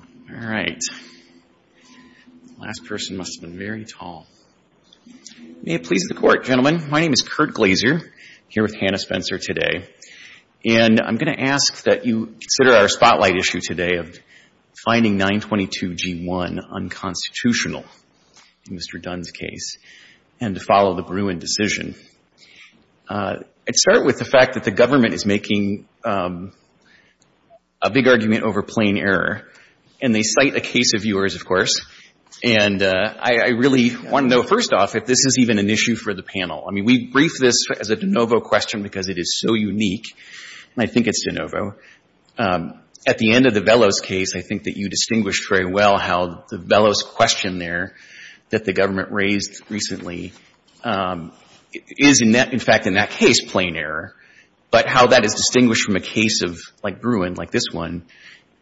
All right. Last person must have been very tall. May it please the Court, gentlemen. My name is Kurt Glaser, here with Hannah Spencer today, and I'm going to ask that you consider our spotlight issue today of finding 922 G1 unconstitutional in Mr. Dunn's case and to follow the Bruin decision. I'd start with the fact that the government is making a big argument over plain error, and they cite a case of yours, of course, and I really want to know, first off, if this is even an issue for the panel. I mean, we briefed this as a de novo question because it is so unique, and I think it's de novo. At the end of the Vellos case, I think that you distinguished very well how the Vellos question there that the government raised recently is, in fact, in that case, plain error, but how that is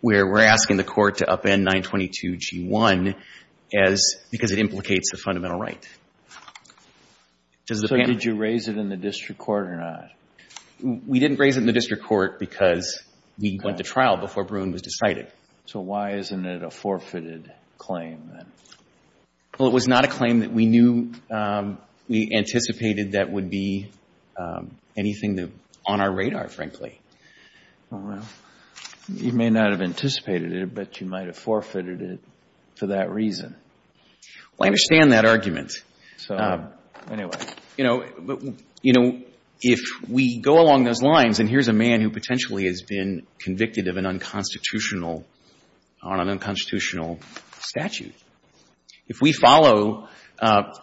where we're asking the Court to upend 922 G1 as — because it implicates a fundamental right. Does the panel — So did you raise it in the district court or not? We didn't raise it in the district court because we went to trial before Bruin was decided. So why isn't it a forfeited claim, then? Well, it was not a claim that we knew — we anticipated that would be anything that — on our radar, frankly. Well, you may not have anticipated it, but you might have forfeited it for that reason. Well, I understand that argument. So, anyway. You know, if we go along those lines, and here's a man who potentially has been convicted of an unconstitutional — on an unconstitutional statute. If we follow, perhaps,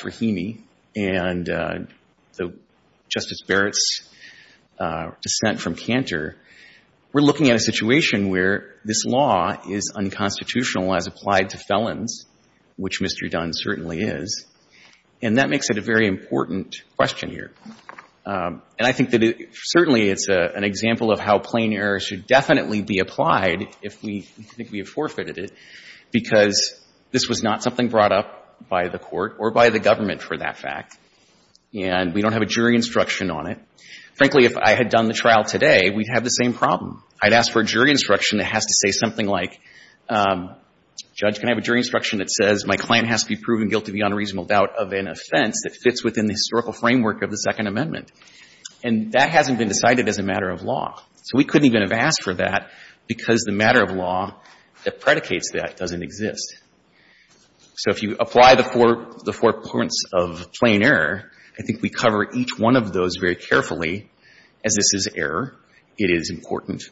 Rahimi and Justice Barrett's dissent from Cantor, we're looking at a situation where this law is unconstitutional as applied to felons, which Mr. Dunn certainly is, and that makes it a very important question here. And I think that it — certainly it's an example of how plain error should definitely be applied if we — if we have forfeited it, because this was not something brought up by the Court or by the government for that fact, and we don't have a jury instruction on it. Frankly, if I had done the trial today, we'd have the same problem. I'd ask for a jury instruction that has to say something like, Judge, can I have a jury instruction that says my client has to be proven guilty beyond a reasonable doubt of an offense that fits within the historical framework of the Second Amendment. And that hasn't been decided as a matter of law. So we couldn't even have asked for that because the matter of law that predicates that doesn't exist. So if you apply the four — the four points of plain error, I think we cover each one of those very carefully. As this is error, it is important.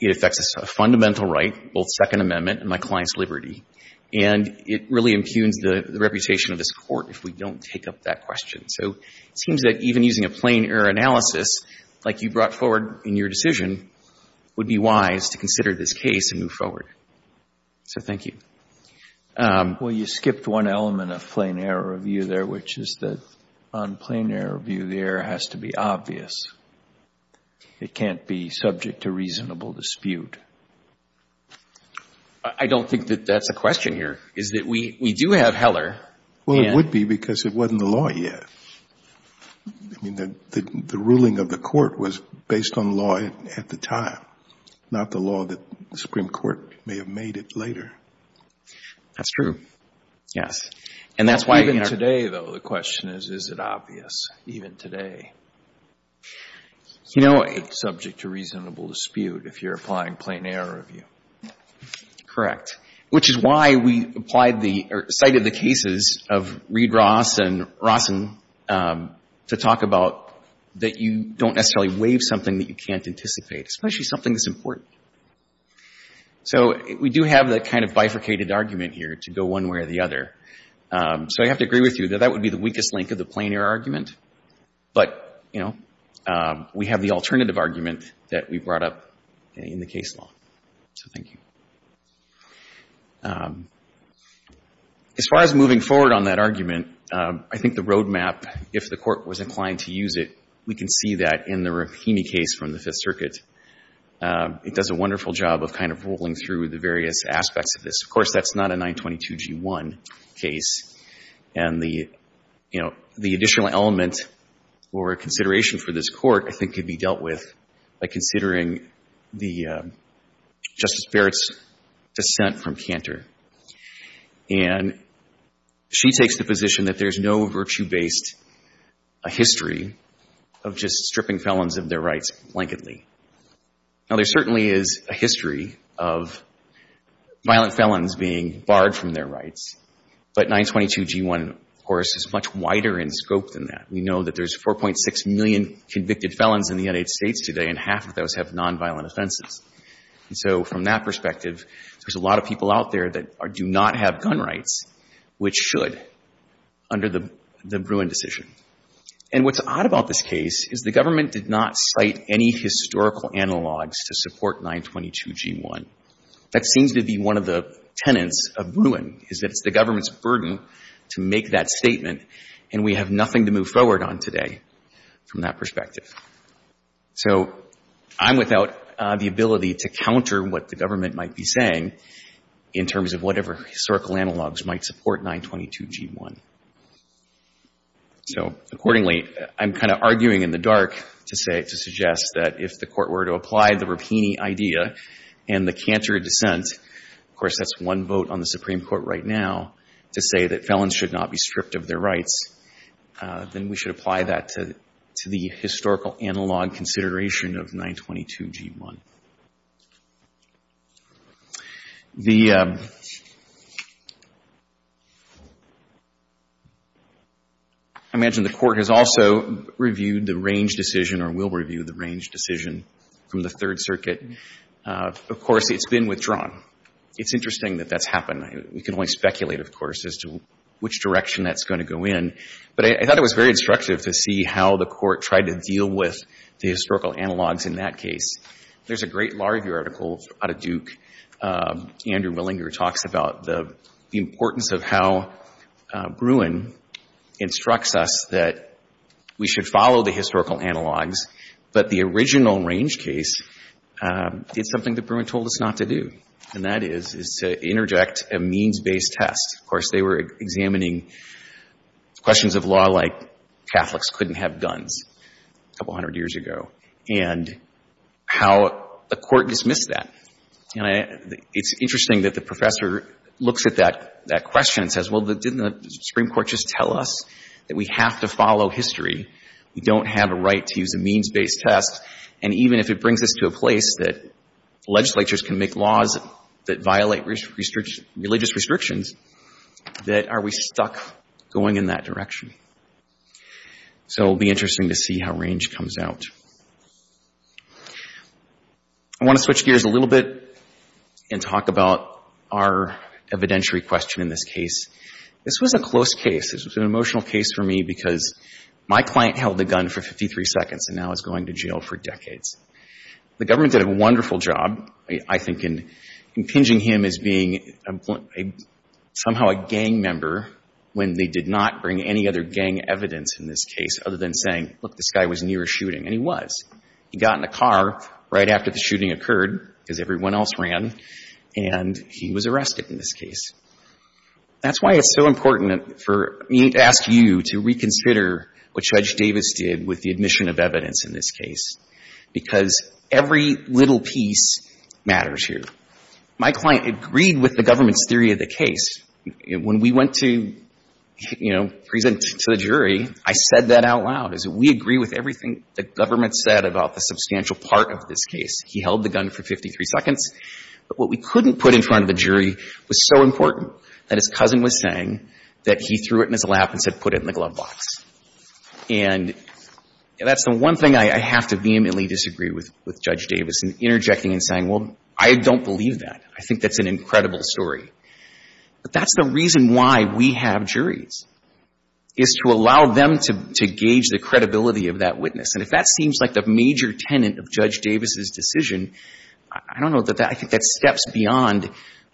It affects a fundamental right, both Second Amendment and my client's liberty, and it really impugns the reputation of this Court if we don't take up that question. So it seems that even using a plain error analysis like you brought forward in your decision would be wise to consider this case and move forward. So thank you. Well, you skipped one element of plain error review there, which is that on plain error review, the error has to be obvious. It can't be subject to reasonable dispute. I don't think that that's a question here, is that we do have Heller and — Well, it would be because it wasn't the law yet. I mean, the ruling of the Court was That's true, yes. And that's why — Even today, though, the question is, is it obvious, even today? You know — It's subject to reasonable dispute if you're applying plain error review. Correct. Which is why we applied the — or cited the cases of Reed-Ross and Rossen to talk about that you don't necessarily waive something that you can't anticipate, especially something that's important. So we do have that kind of bifurcated argument here to go one way or the other. So I have to agree with you that that would be the weakest link of the plain error argument. But, you know, we have the alternative argument that we brought up in the case law. So thank you. As far as moving forward on that argument, I think the roadmap, if the Court was inclined to use it, we can see that in the Rahimi case from the Fifth Circuit. It does a wonderful job of kind of rolling through the various aspects of this. Of course, that's not a 922G1 case. And the, you know, the additional element or consideration for this Court, I think, could be dealt with by considering the — Justice Barrett's dissent from Cantor. And she takes the position that there's no virtue-based history of just stripping felons of their rights blanketly. Now, there certainly is a history of violent felons being barred from their rights. But 922G1, of course, is much wider in scope than that. We know that there's 4.6 million convicted felons in the United States today, and half of those have do not have gun rights, which should, under the Bruin decision. And what's odd about this case is the government did not cite any historical analogs to support 922G1. That seems to be one of the tenets of Bruin, is that it's the government's burden to make that statement, and we have nothing to move forward on today from that perspective. So I'm without the ability to counter what the government might be saying in terms of whatever historical analogs might support 922G1. So, accordingly, I'm kind of arguing in the dark to say — to suggest that if the Court were to apply the Rapini idea and the Cantor dissent — of course, that's one vote on the Supreme Court right now — to say that felons should not be stripped of their rights, then we should apply that to the historical analog consideration of 922G1. The — I imagine the Court has also reviewed the range decision or will review the range decision from the Third Circuit. Of course, it's been withdrawn. It's interesting that that's happened. We can only speculate, of course, as to which direction that's going to go in. But I thought it was very instructive to see how the Court tried to deal with the historical analogs in that case. There's a great LaRue article out of Duke. Andrew Willinger talks about the importance of how Bruin instructs us that we should follow the historical analogs, but the original range case did something that Bruin told us not to do, and that is, is to interject a means-based test. Of course, they were examining questions of law like Catholics couldn't have guns a couple hundred years ago, and how the Court dismissed that. It's interesting that the professor looks at that question and says, well, didn't the Supreme Court just tell us that we have to follow history? We don't have a right to use a means-based test. And even if it brings us to a place that legislatures can make laws that violate religious restrictions, that are we stuck going in that direction? So it will be interesting to see how range comes out. I want to switch gears a little bit and talk about our evidentiary question in this case. This was a close case. This was an emotional case for me because my client held a gun for 53 seconds and now is going to jail for decades. The government did a wonderful job, I think, in impinging him as being somehow a gang member when they did not bring any other gang evidence in this case other than saying, look, this guy was near a shooting, and he was. He got in a car right after the shooting occurred, because everyone else ran, and he was arrested in this case. That's why it's so important for me to ask you to reconsider what Judge Davis did with the admission of evidence in this case, because every little piece matters here. My client agreed with the government's theory of the case. When we went to, you know, present to the jury, I said that out loud, is that we agree with everything the government said about the substantial part of this case. He held the gun for 53 seconds. But what we couldn't put in front of the jury was so important that his cousin was saying that he threw it in his lap and said, put it in the glove box. And that's the one thing I have to vehemently disagree with Judge Davis in interjecting and saying, well, I don't believe that. I think that's an incredible story. But that's the reason why we have juries, is to allow them to gauge the credibility of that witness. And if that seems like the major tenet of Judge Davis's decision, I don't know that that – I think that steps beyond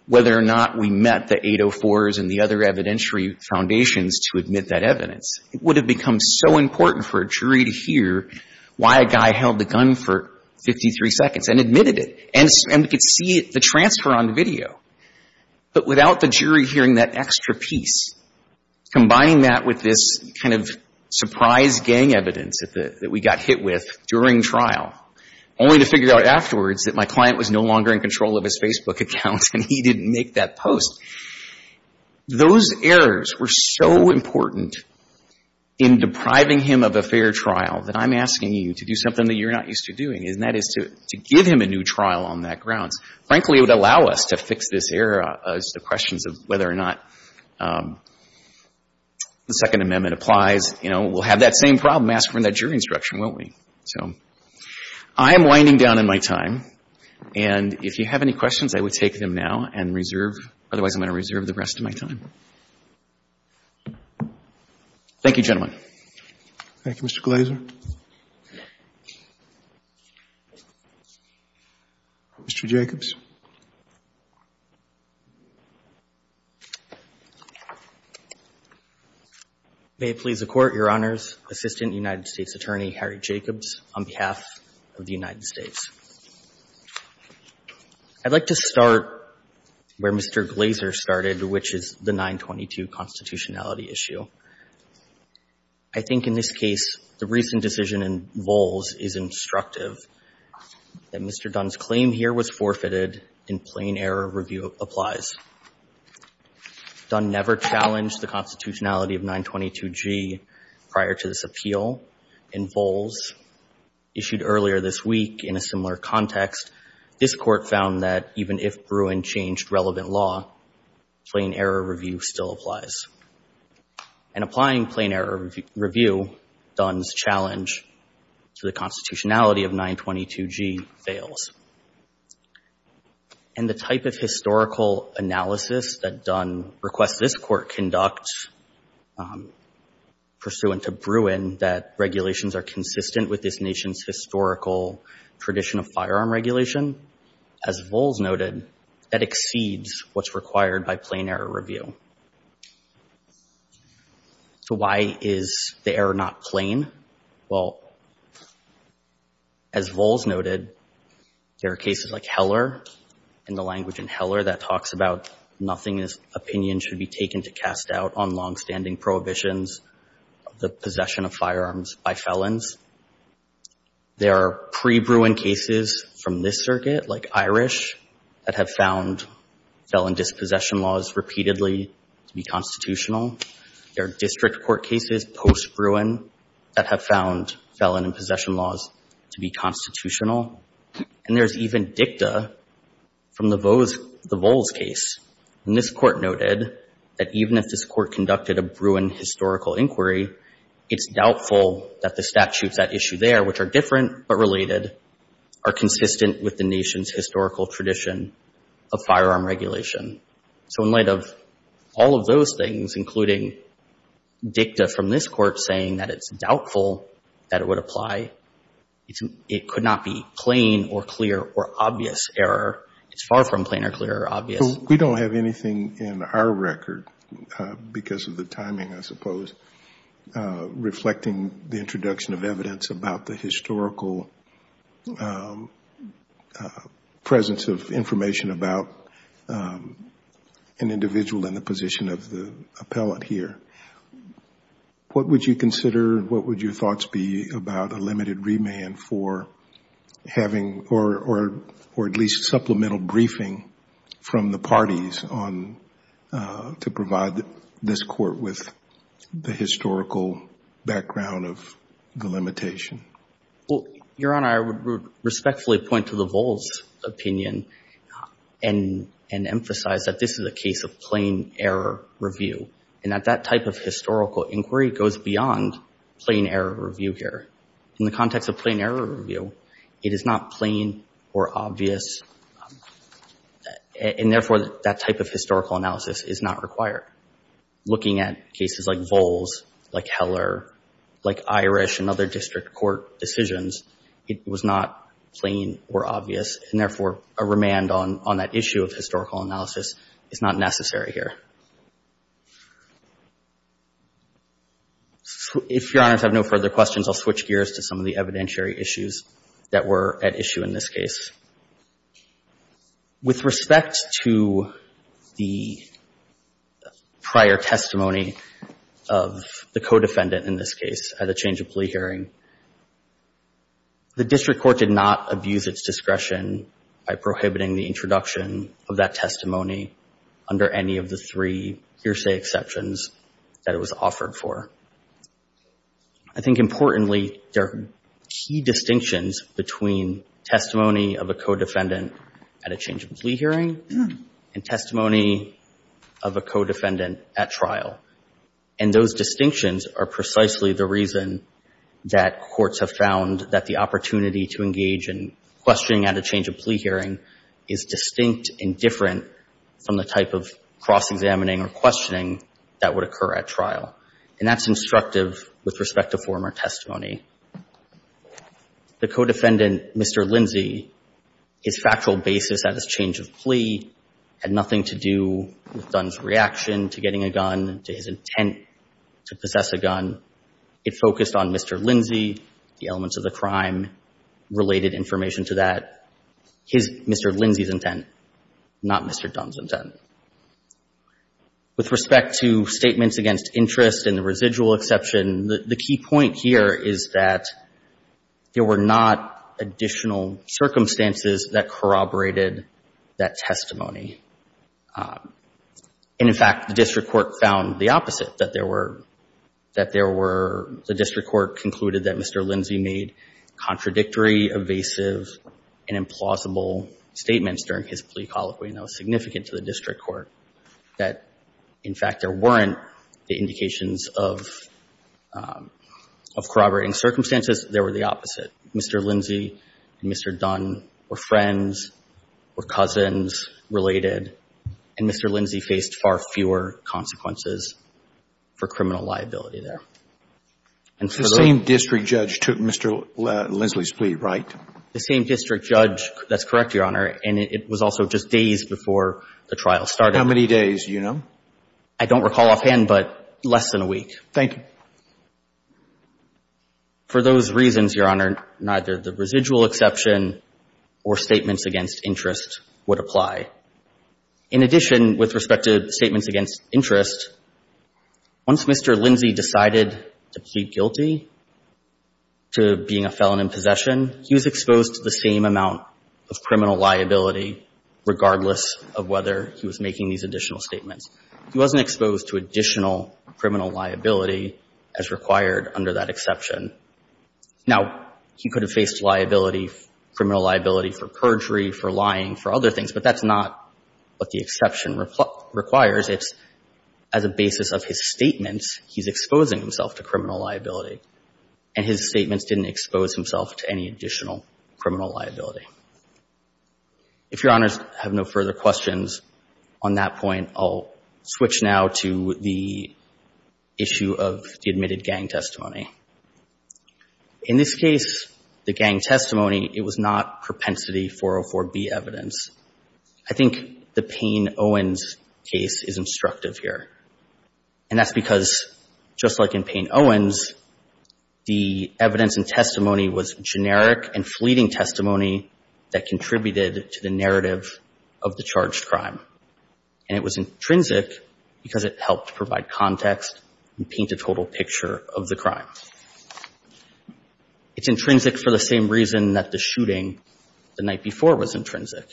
whether or not we met the 804s and the other evidentiary foundations to admit that evidence. It would have become so important for a jury to hear why a guy held the gun for 53 seconds and admitted it. And we could see the transfer on video. But without the jury hearing that extra piece, combining that with this kind of surprise gang evidence that the – that we got hit with during trial, only to figure out afterwards that my client was no longer in control of his Facebook account and he didn't make that post, those errors were so important in depriving him of a fair trial that I'm asking you to do something that you're not used to doing, and that is to give him a new trial on that grounds. Frankly, it would allow us to fix this error as to questions of whether or not the Second Amendment applies. You know, we'll have that same problem, ask for that jury instruction, won't we? So I am winding down in my time. And if you have any questions, I would take them now and reserve. Otherwise, I'm going to reserve the rest of my time. Thank you, gentlemen. Thank you, Mr. Glaser. Mr. Jacobs. May it please the Court, Your Honors, Assistant United States Attorney Harry Jacobs, on behalf of the United States. I'd like to start where Mr. Glaser started, which is the 922 constitutionality issue. I think in this case the recent decision in Vols is instructive that Mr. Dunn's claim here was forfeited and plain error review applies. Dunn never challenged the constitutionality of 922G prior to this appeal in Vols. Issued earlier this week in a similar context, this Court found that even if Bruin changed relevant law, plain error review still applies. And applying plain error review, Dunn's challenge to the constitutionality of 922G fails. And the type of historical analysis that Dunn requests this Court conduct pursuant to Bruin that regulations are consistent with this nation's historical tradition of firearm regulation, as Vols noted, that exceeds what's required by plain error review. So why is the error not plain? Well, as Vols noted, there are cases like Heller, in the language in Heller that talks about nothing in this opinion should be taken to cast doubt on longstanding prohibitions of the possession of firearms by felons. There are pre-Bruin cases from this circuit, like Irish, that have found felon dispossession laws repeatedly to be constitutional. There are district court cases post-Bruin that have found felon dispossession laws to be constitutional. And there's even dicta from the Vols case. And this Court noted that even if this Court conducted a Bruin historical inquiry, it's doubtful that the statutes at issue there, which are different but related, are consistent with the nation's historical tradition of firearm regulation. So in light of all of those things, including dicta from this Court saying that it's doubtful that it would apply, it could not be plain or clear or obvious error. It's far from plain or clear or obvious. We don't have anything in our record, because of the timing, I suppose, reflecting the introduction of evidence about the historical presence of information about an individual in the position of the appellant here. What would you consider, what would your thoughts be about a limited remand for having, or at least supplemental briefing from the parties to provide this Court with the historical background of the limitation? Your Honor, I would respectfully point to the Vols opinion and emphasize that this is a case of plain error review, and that that type of historical inquiry goes beyond plain error review here. In the context of plain error review, it is not plain or obvious, and therefore that type of historical analysis is not required. Looking at cases like Vols, like Heller, like Irish and other district court decisions, it was not plain or obvious, and therefore a remand on that issue of historical analysis is not necessary here. If Your Honors have no further questions, I'll switch gears to some of the evidentiary issues that were at issue in this case. With respect to the prior testimony of the co-defendant in this case at a change of plea hearing, the district court did not abuse its discretion by prohibiting the introduction of that testimony under any of the three hearsay exceptions that it was offered for. I think importantly, there are key distinctions between testimony of a co-defendant at a change of plea hearing and testimony of a co-defendant at trial, and those distinctions are precisely the reason that courts have found that the opportunity to engage in questioning at a change of plea hearing is distinct and different from the type of cross-examining or questioning that would occur at trial, and that's instructive with respect to former testimony. The co-defendant, Mr. Lindsey, his factual basis at his change of plea had nothing to do with Dunn's reaction to getting a gun, to his intent to possess a gun. It focused on Mr. Lindsey, the elements of the crime, related information to that, his Mr. Lindsey's intent, not Mr. Dunn's intent. With respect to statements against interest and the residual exception, the key point here is that there were not additional circumstances that corroborated that testimony. And in fact, the district court found the opposite, that there were, that there were, the district court concluded that Mr. Lindsey made contradictory, evasive, and implausible statements during his plea colloquy, and that was significant to the district court, that, in fact, there weren't the indications of corroborating circumstances. There were the opposite. Mr. Lindsey and Mr. Dunn were friends, were cousins related, and Mr. Lindsey faced far fewer consequences for criminal liability there. The same district judge took Mr. Lindsey's plea, right? The same district judge, that's correct, Your Honor, and it was also just days before the trial started. How many days, do you know? I don't recall offhand, but less than a week. Thank you. For those reasons, Your Honor, neither the residual exception or statements against interest would apply. In addition, with respect to statements against interest, once Mr. Lindsey decided to plead guilty to being a felon in possession, he was exposed to the same amount of criminal liability, regardless of whether he was making these additional statements. He wasn't exposed to additional criminal liability as required under that exception. Now, he could have faced liability, criminal liability for perjury, for lying, for other things, but that's not what the exception requires. It's, as a basis of his statements, he's exposing himself to criminal liability, and his statements didn't expose himself to any additional criminal liability. If Your Honors have no further questions on that point, I'll switch now to the issue of the admitted gang testimony. In this case, the gang testimony, it was not propensity 404B evidence. I think the Payne-Owens case is instructive here, and that's because the evidence, just like in Payne-Owens, the evidence and testimony was generic and fleeting testimony that contributed to the narrative of the charged crime, and it was intrinsic because it helped provide context and paint a total picture of the crime. It's intrinsic for the same reason that the shooting the night before was intrinsic,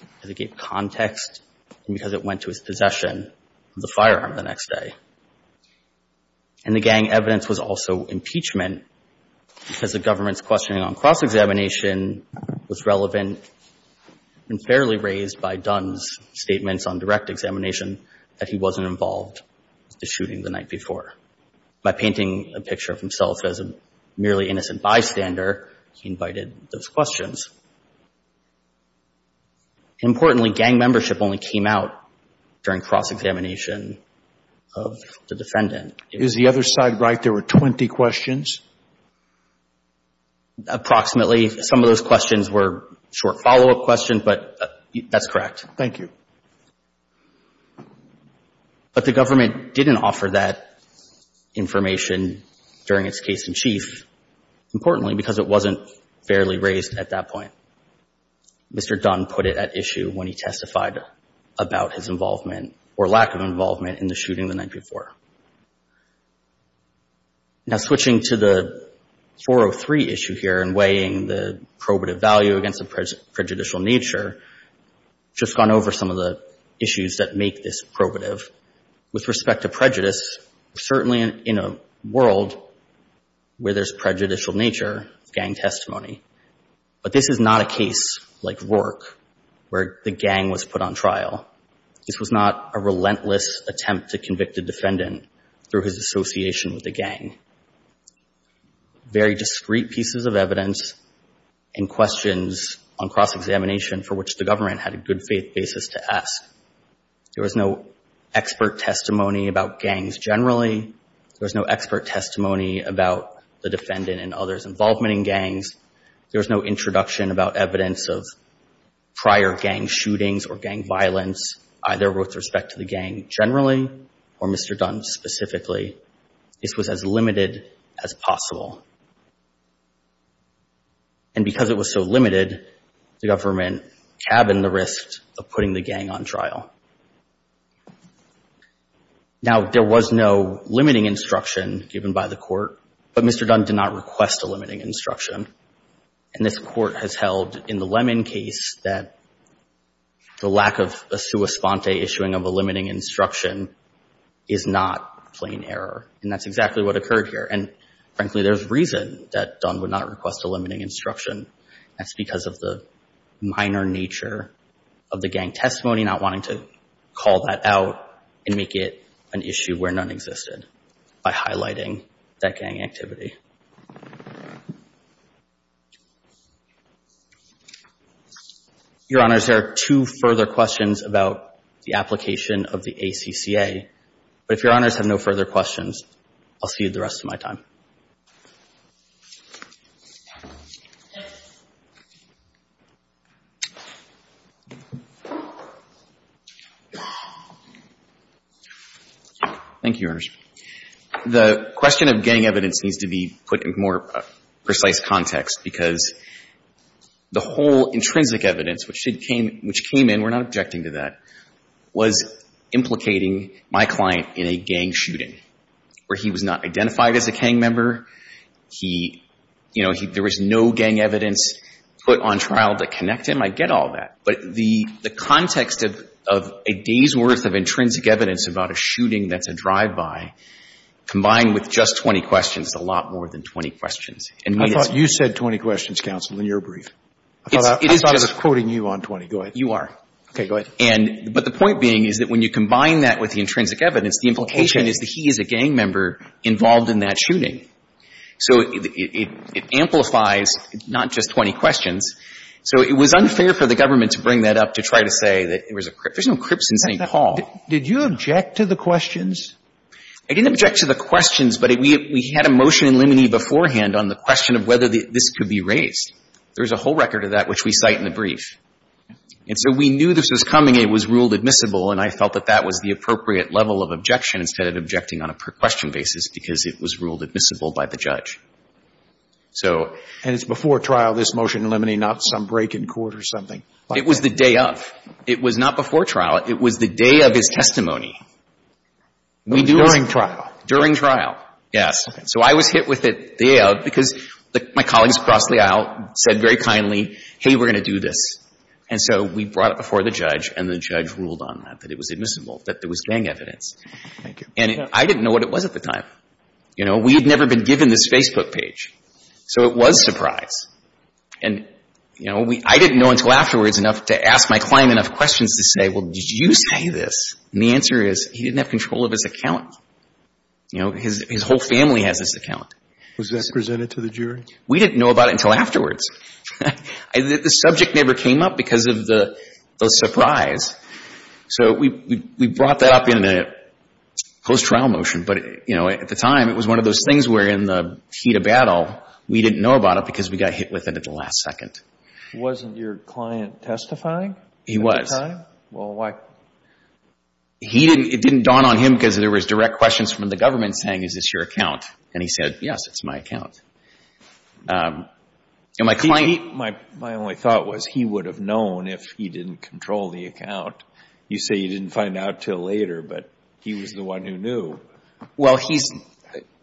because it gave context and because it went to his possession, the firearm, the next day. And the gang evidence was also impeachment because the government's questioning on cross-examination was relevant and fairly raised by Dunn's statements on direct examination that he wasn't involved with the shooting the night before. By painting a picture of himself as a merely innocent bystander, he invited those questions. Importantly, gang membership only came out during cross-examination of the defendant. Is the other side right? There were 20 questions? Approximately. Some of those questions were short follow-up questions, but that's correct. Thank you. But the government didn't offer that information during its case in chief, importantly, because it wasn't fairly raised at that point. Mr. Dunn put it at issue when he testified about his involvement or lack of involvement in the shooting the night before. Now switching to the 403 issue here and weighing the probative value against the prejudicial nature, just gone over some of the issues that make this probative. With respect to gang testimony, but this is not a case like Rourke where the gang was put on trial. This was not a relentless attempt to convict a defendant through his association with the gang. Very discreet pieces of evidence and questions on cross-examination for which the government had a good faith basis to ask. There was no expert testimony about gangs generally. There was no expert testimony about the defendant and others' involvement in gangs. There was no introduction about evidence of prior gang shootings or gang violence either with respect to the gang generally or Mr. Dunn specifically. This was as limited as possible. And because it was so limited, the government cabined the risk of putting the gang on trial. Now, there was no limiting instruction given by the court, but Mr. Dunn did not request a limiting instruction. And this court has held in the Lemon case that the lack of a sua sponte issuing of a limiting instruction is not plain error. And that's exactly what occurred here. And frankly, there's reason that Dunn would not request a limiting instruction. That's because of the minor nature of the gang testimony, not wanting to call that out and make it an issue where none existed by highlighting that gang activity. Your Honors, there are two further questions about the application of the ACCA. But if you would like to address them, please do so. Thank you, Your Honors. The question of gang evidence needs to be put in a more precise context because the whole intrinsic evidence which came in, we're not objecting to that, was implicating my client in a gang shooting where he was not identified as a gang member. He, you know, there was no gang evidence put on trial to connect him. I get all that. But the context of a day's worth of intrinsic evidence about a shooting that's a drive-by combined with just 20 questions is a lot more than 20 questions. And me, it's... I thought you said 20 questions, counsel, in your brief. It is just... I thought I was quoting you on 20. Go ahead. You are. Okay. Go ahead. But the point being is that when you combine that with the intrinsic evidence, the implication is that he is a gang member involved in that shooting. So it amplifies not just 20 questions. So it was unfair for the government to bring that up to try to say that there was a crip. There's no crips in St. Paul. Did you object to the questions? I didn't object to the questions, but we had a motion in limine beforehand on the question of whether this could be raised. There's a whole record of that which we cite in the brief. And so we knew this was coming. It was ruled admissible, and I felt that that was the appropriate level of objection instead of objecting on a per-question basis because it was ruled admissible by the judge. So... And it's before trial, this motion in limine, not some break in court or something. It was the day of. It was not before trial. It was the day of his testimony. During trial? During trial, yes. So I was hit with it the day of because my colleagues across the aisle said very kindly, hey, we're going to do this. And so we brought it before the judge, and the judge ruled on that, that it was admissible, that there was gang evidence. Thank you. And I didn't know what it was at the time. You know, we had never been given this Facebook page. So it was surprise. And, you know, I didn't know until afterwards enough to ask my client enough questions to say, well, did you say this? And the answer is, he didn't have control of his account. You know, his whole family has this account. Was that presented to the jury? We didn't know about it until afterwards. The subject never came up because of the surprise. So we brought that up in a post-trial motion. But, you know, at the time, it was one of those things where in the heat of battle, we didn't know about it because we got hit with it at the last second. Wasn't your client testifying at the time? He was. Well, why? It didn't dawn on him because there was direct questions from the government saying, is this your account? And he said, yes, it's my account. My only thought was he would have known if he didn't control the account. You say you didn't find out until later, but he was the one who knew. Well, he's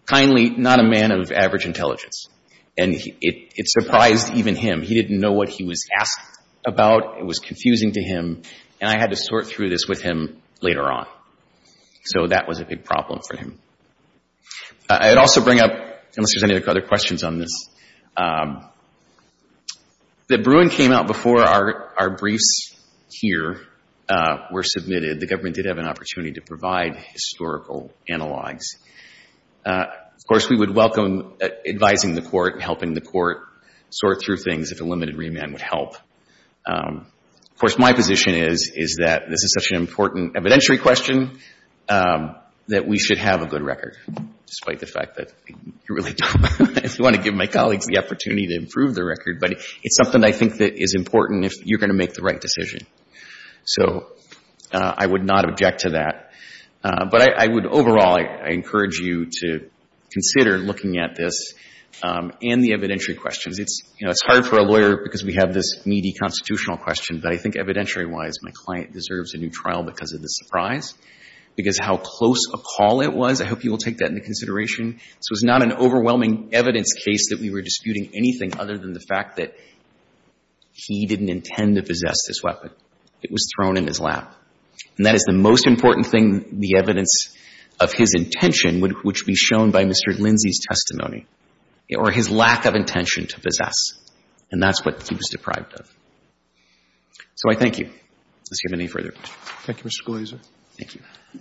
kindly not a man of average intelligence. And it surprised even him. He didn't know what he was asked about. It was confusing to him. And I had to sort through this with him later on. So that was a big problem for him. I'd also bring up, unless there's any other questions on this, that Bruin came out before our briefs here were submitted. The government did have an opportunity to provide historical analogs. Of course, we would welcome advising the court and helping the court sort through things if a limited remand would help. Of course, my position is that this is such an important evidentiary question that we should have a good record, despite the fact that we really don't. I just want to give my colleagues the opportunity to improve the record. But it's something I think that is important if you're going to make the right decision. So I would not object to that. But I would overall encourage you to consider looking at this and the evidentiary questions. It's, you know, it's hard for a lawyer because we have this needy constitutional question. But I think evidentiary-wise, my client deserves a new trial because of the surprise, because how close a call it was. I hope you will take that into consideration. This was not an overwhelming evidence case that we were disputing anything other than the fact that he didn't intend to possess this weapon. It was thrown in his lap. And that is the most important thing, the evidence of his intention, which would be shown by Mr. Lindsay's testimony, or his lack of intention to possess. And that's what he was deprived of. So I thank you. Does he have any further? Thank you, Mr. Glazer. Thank you.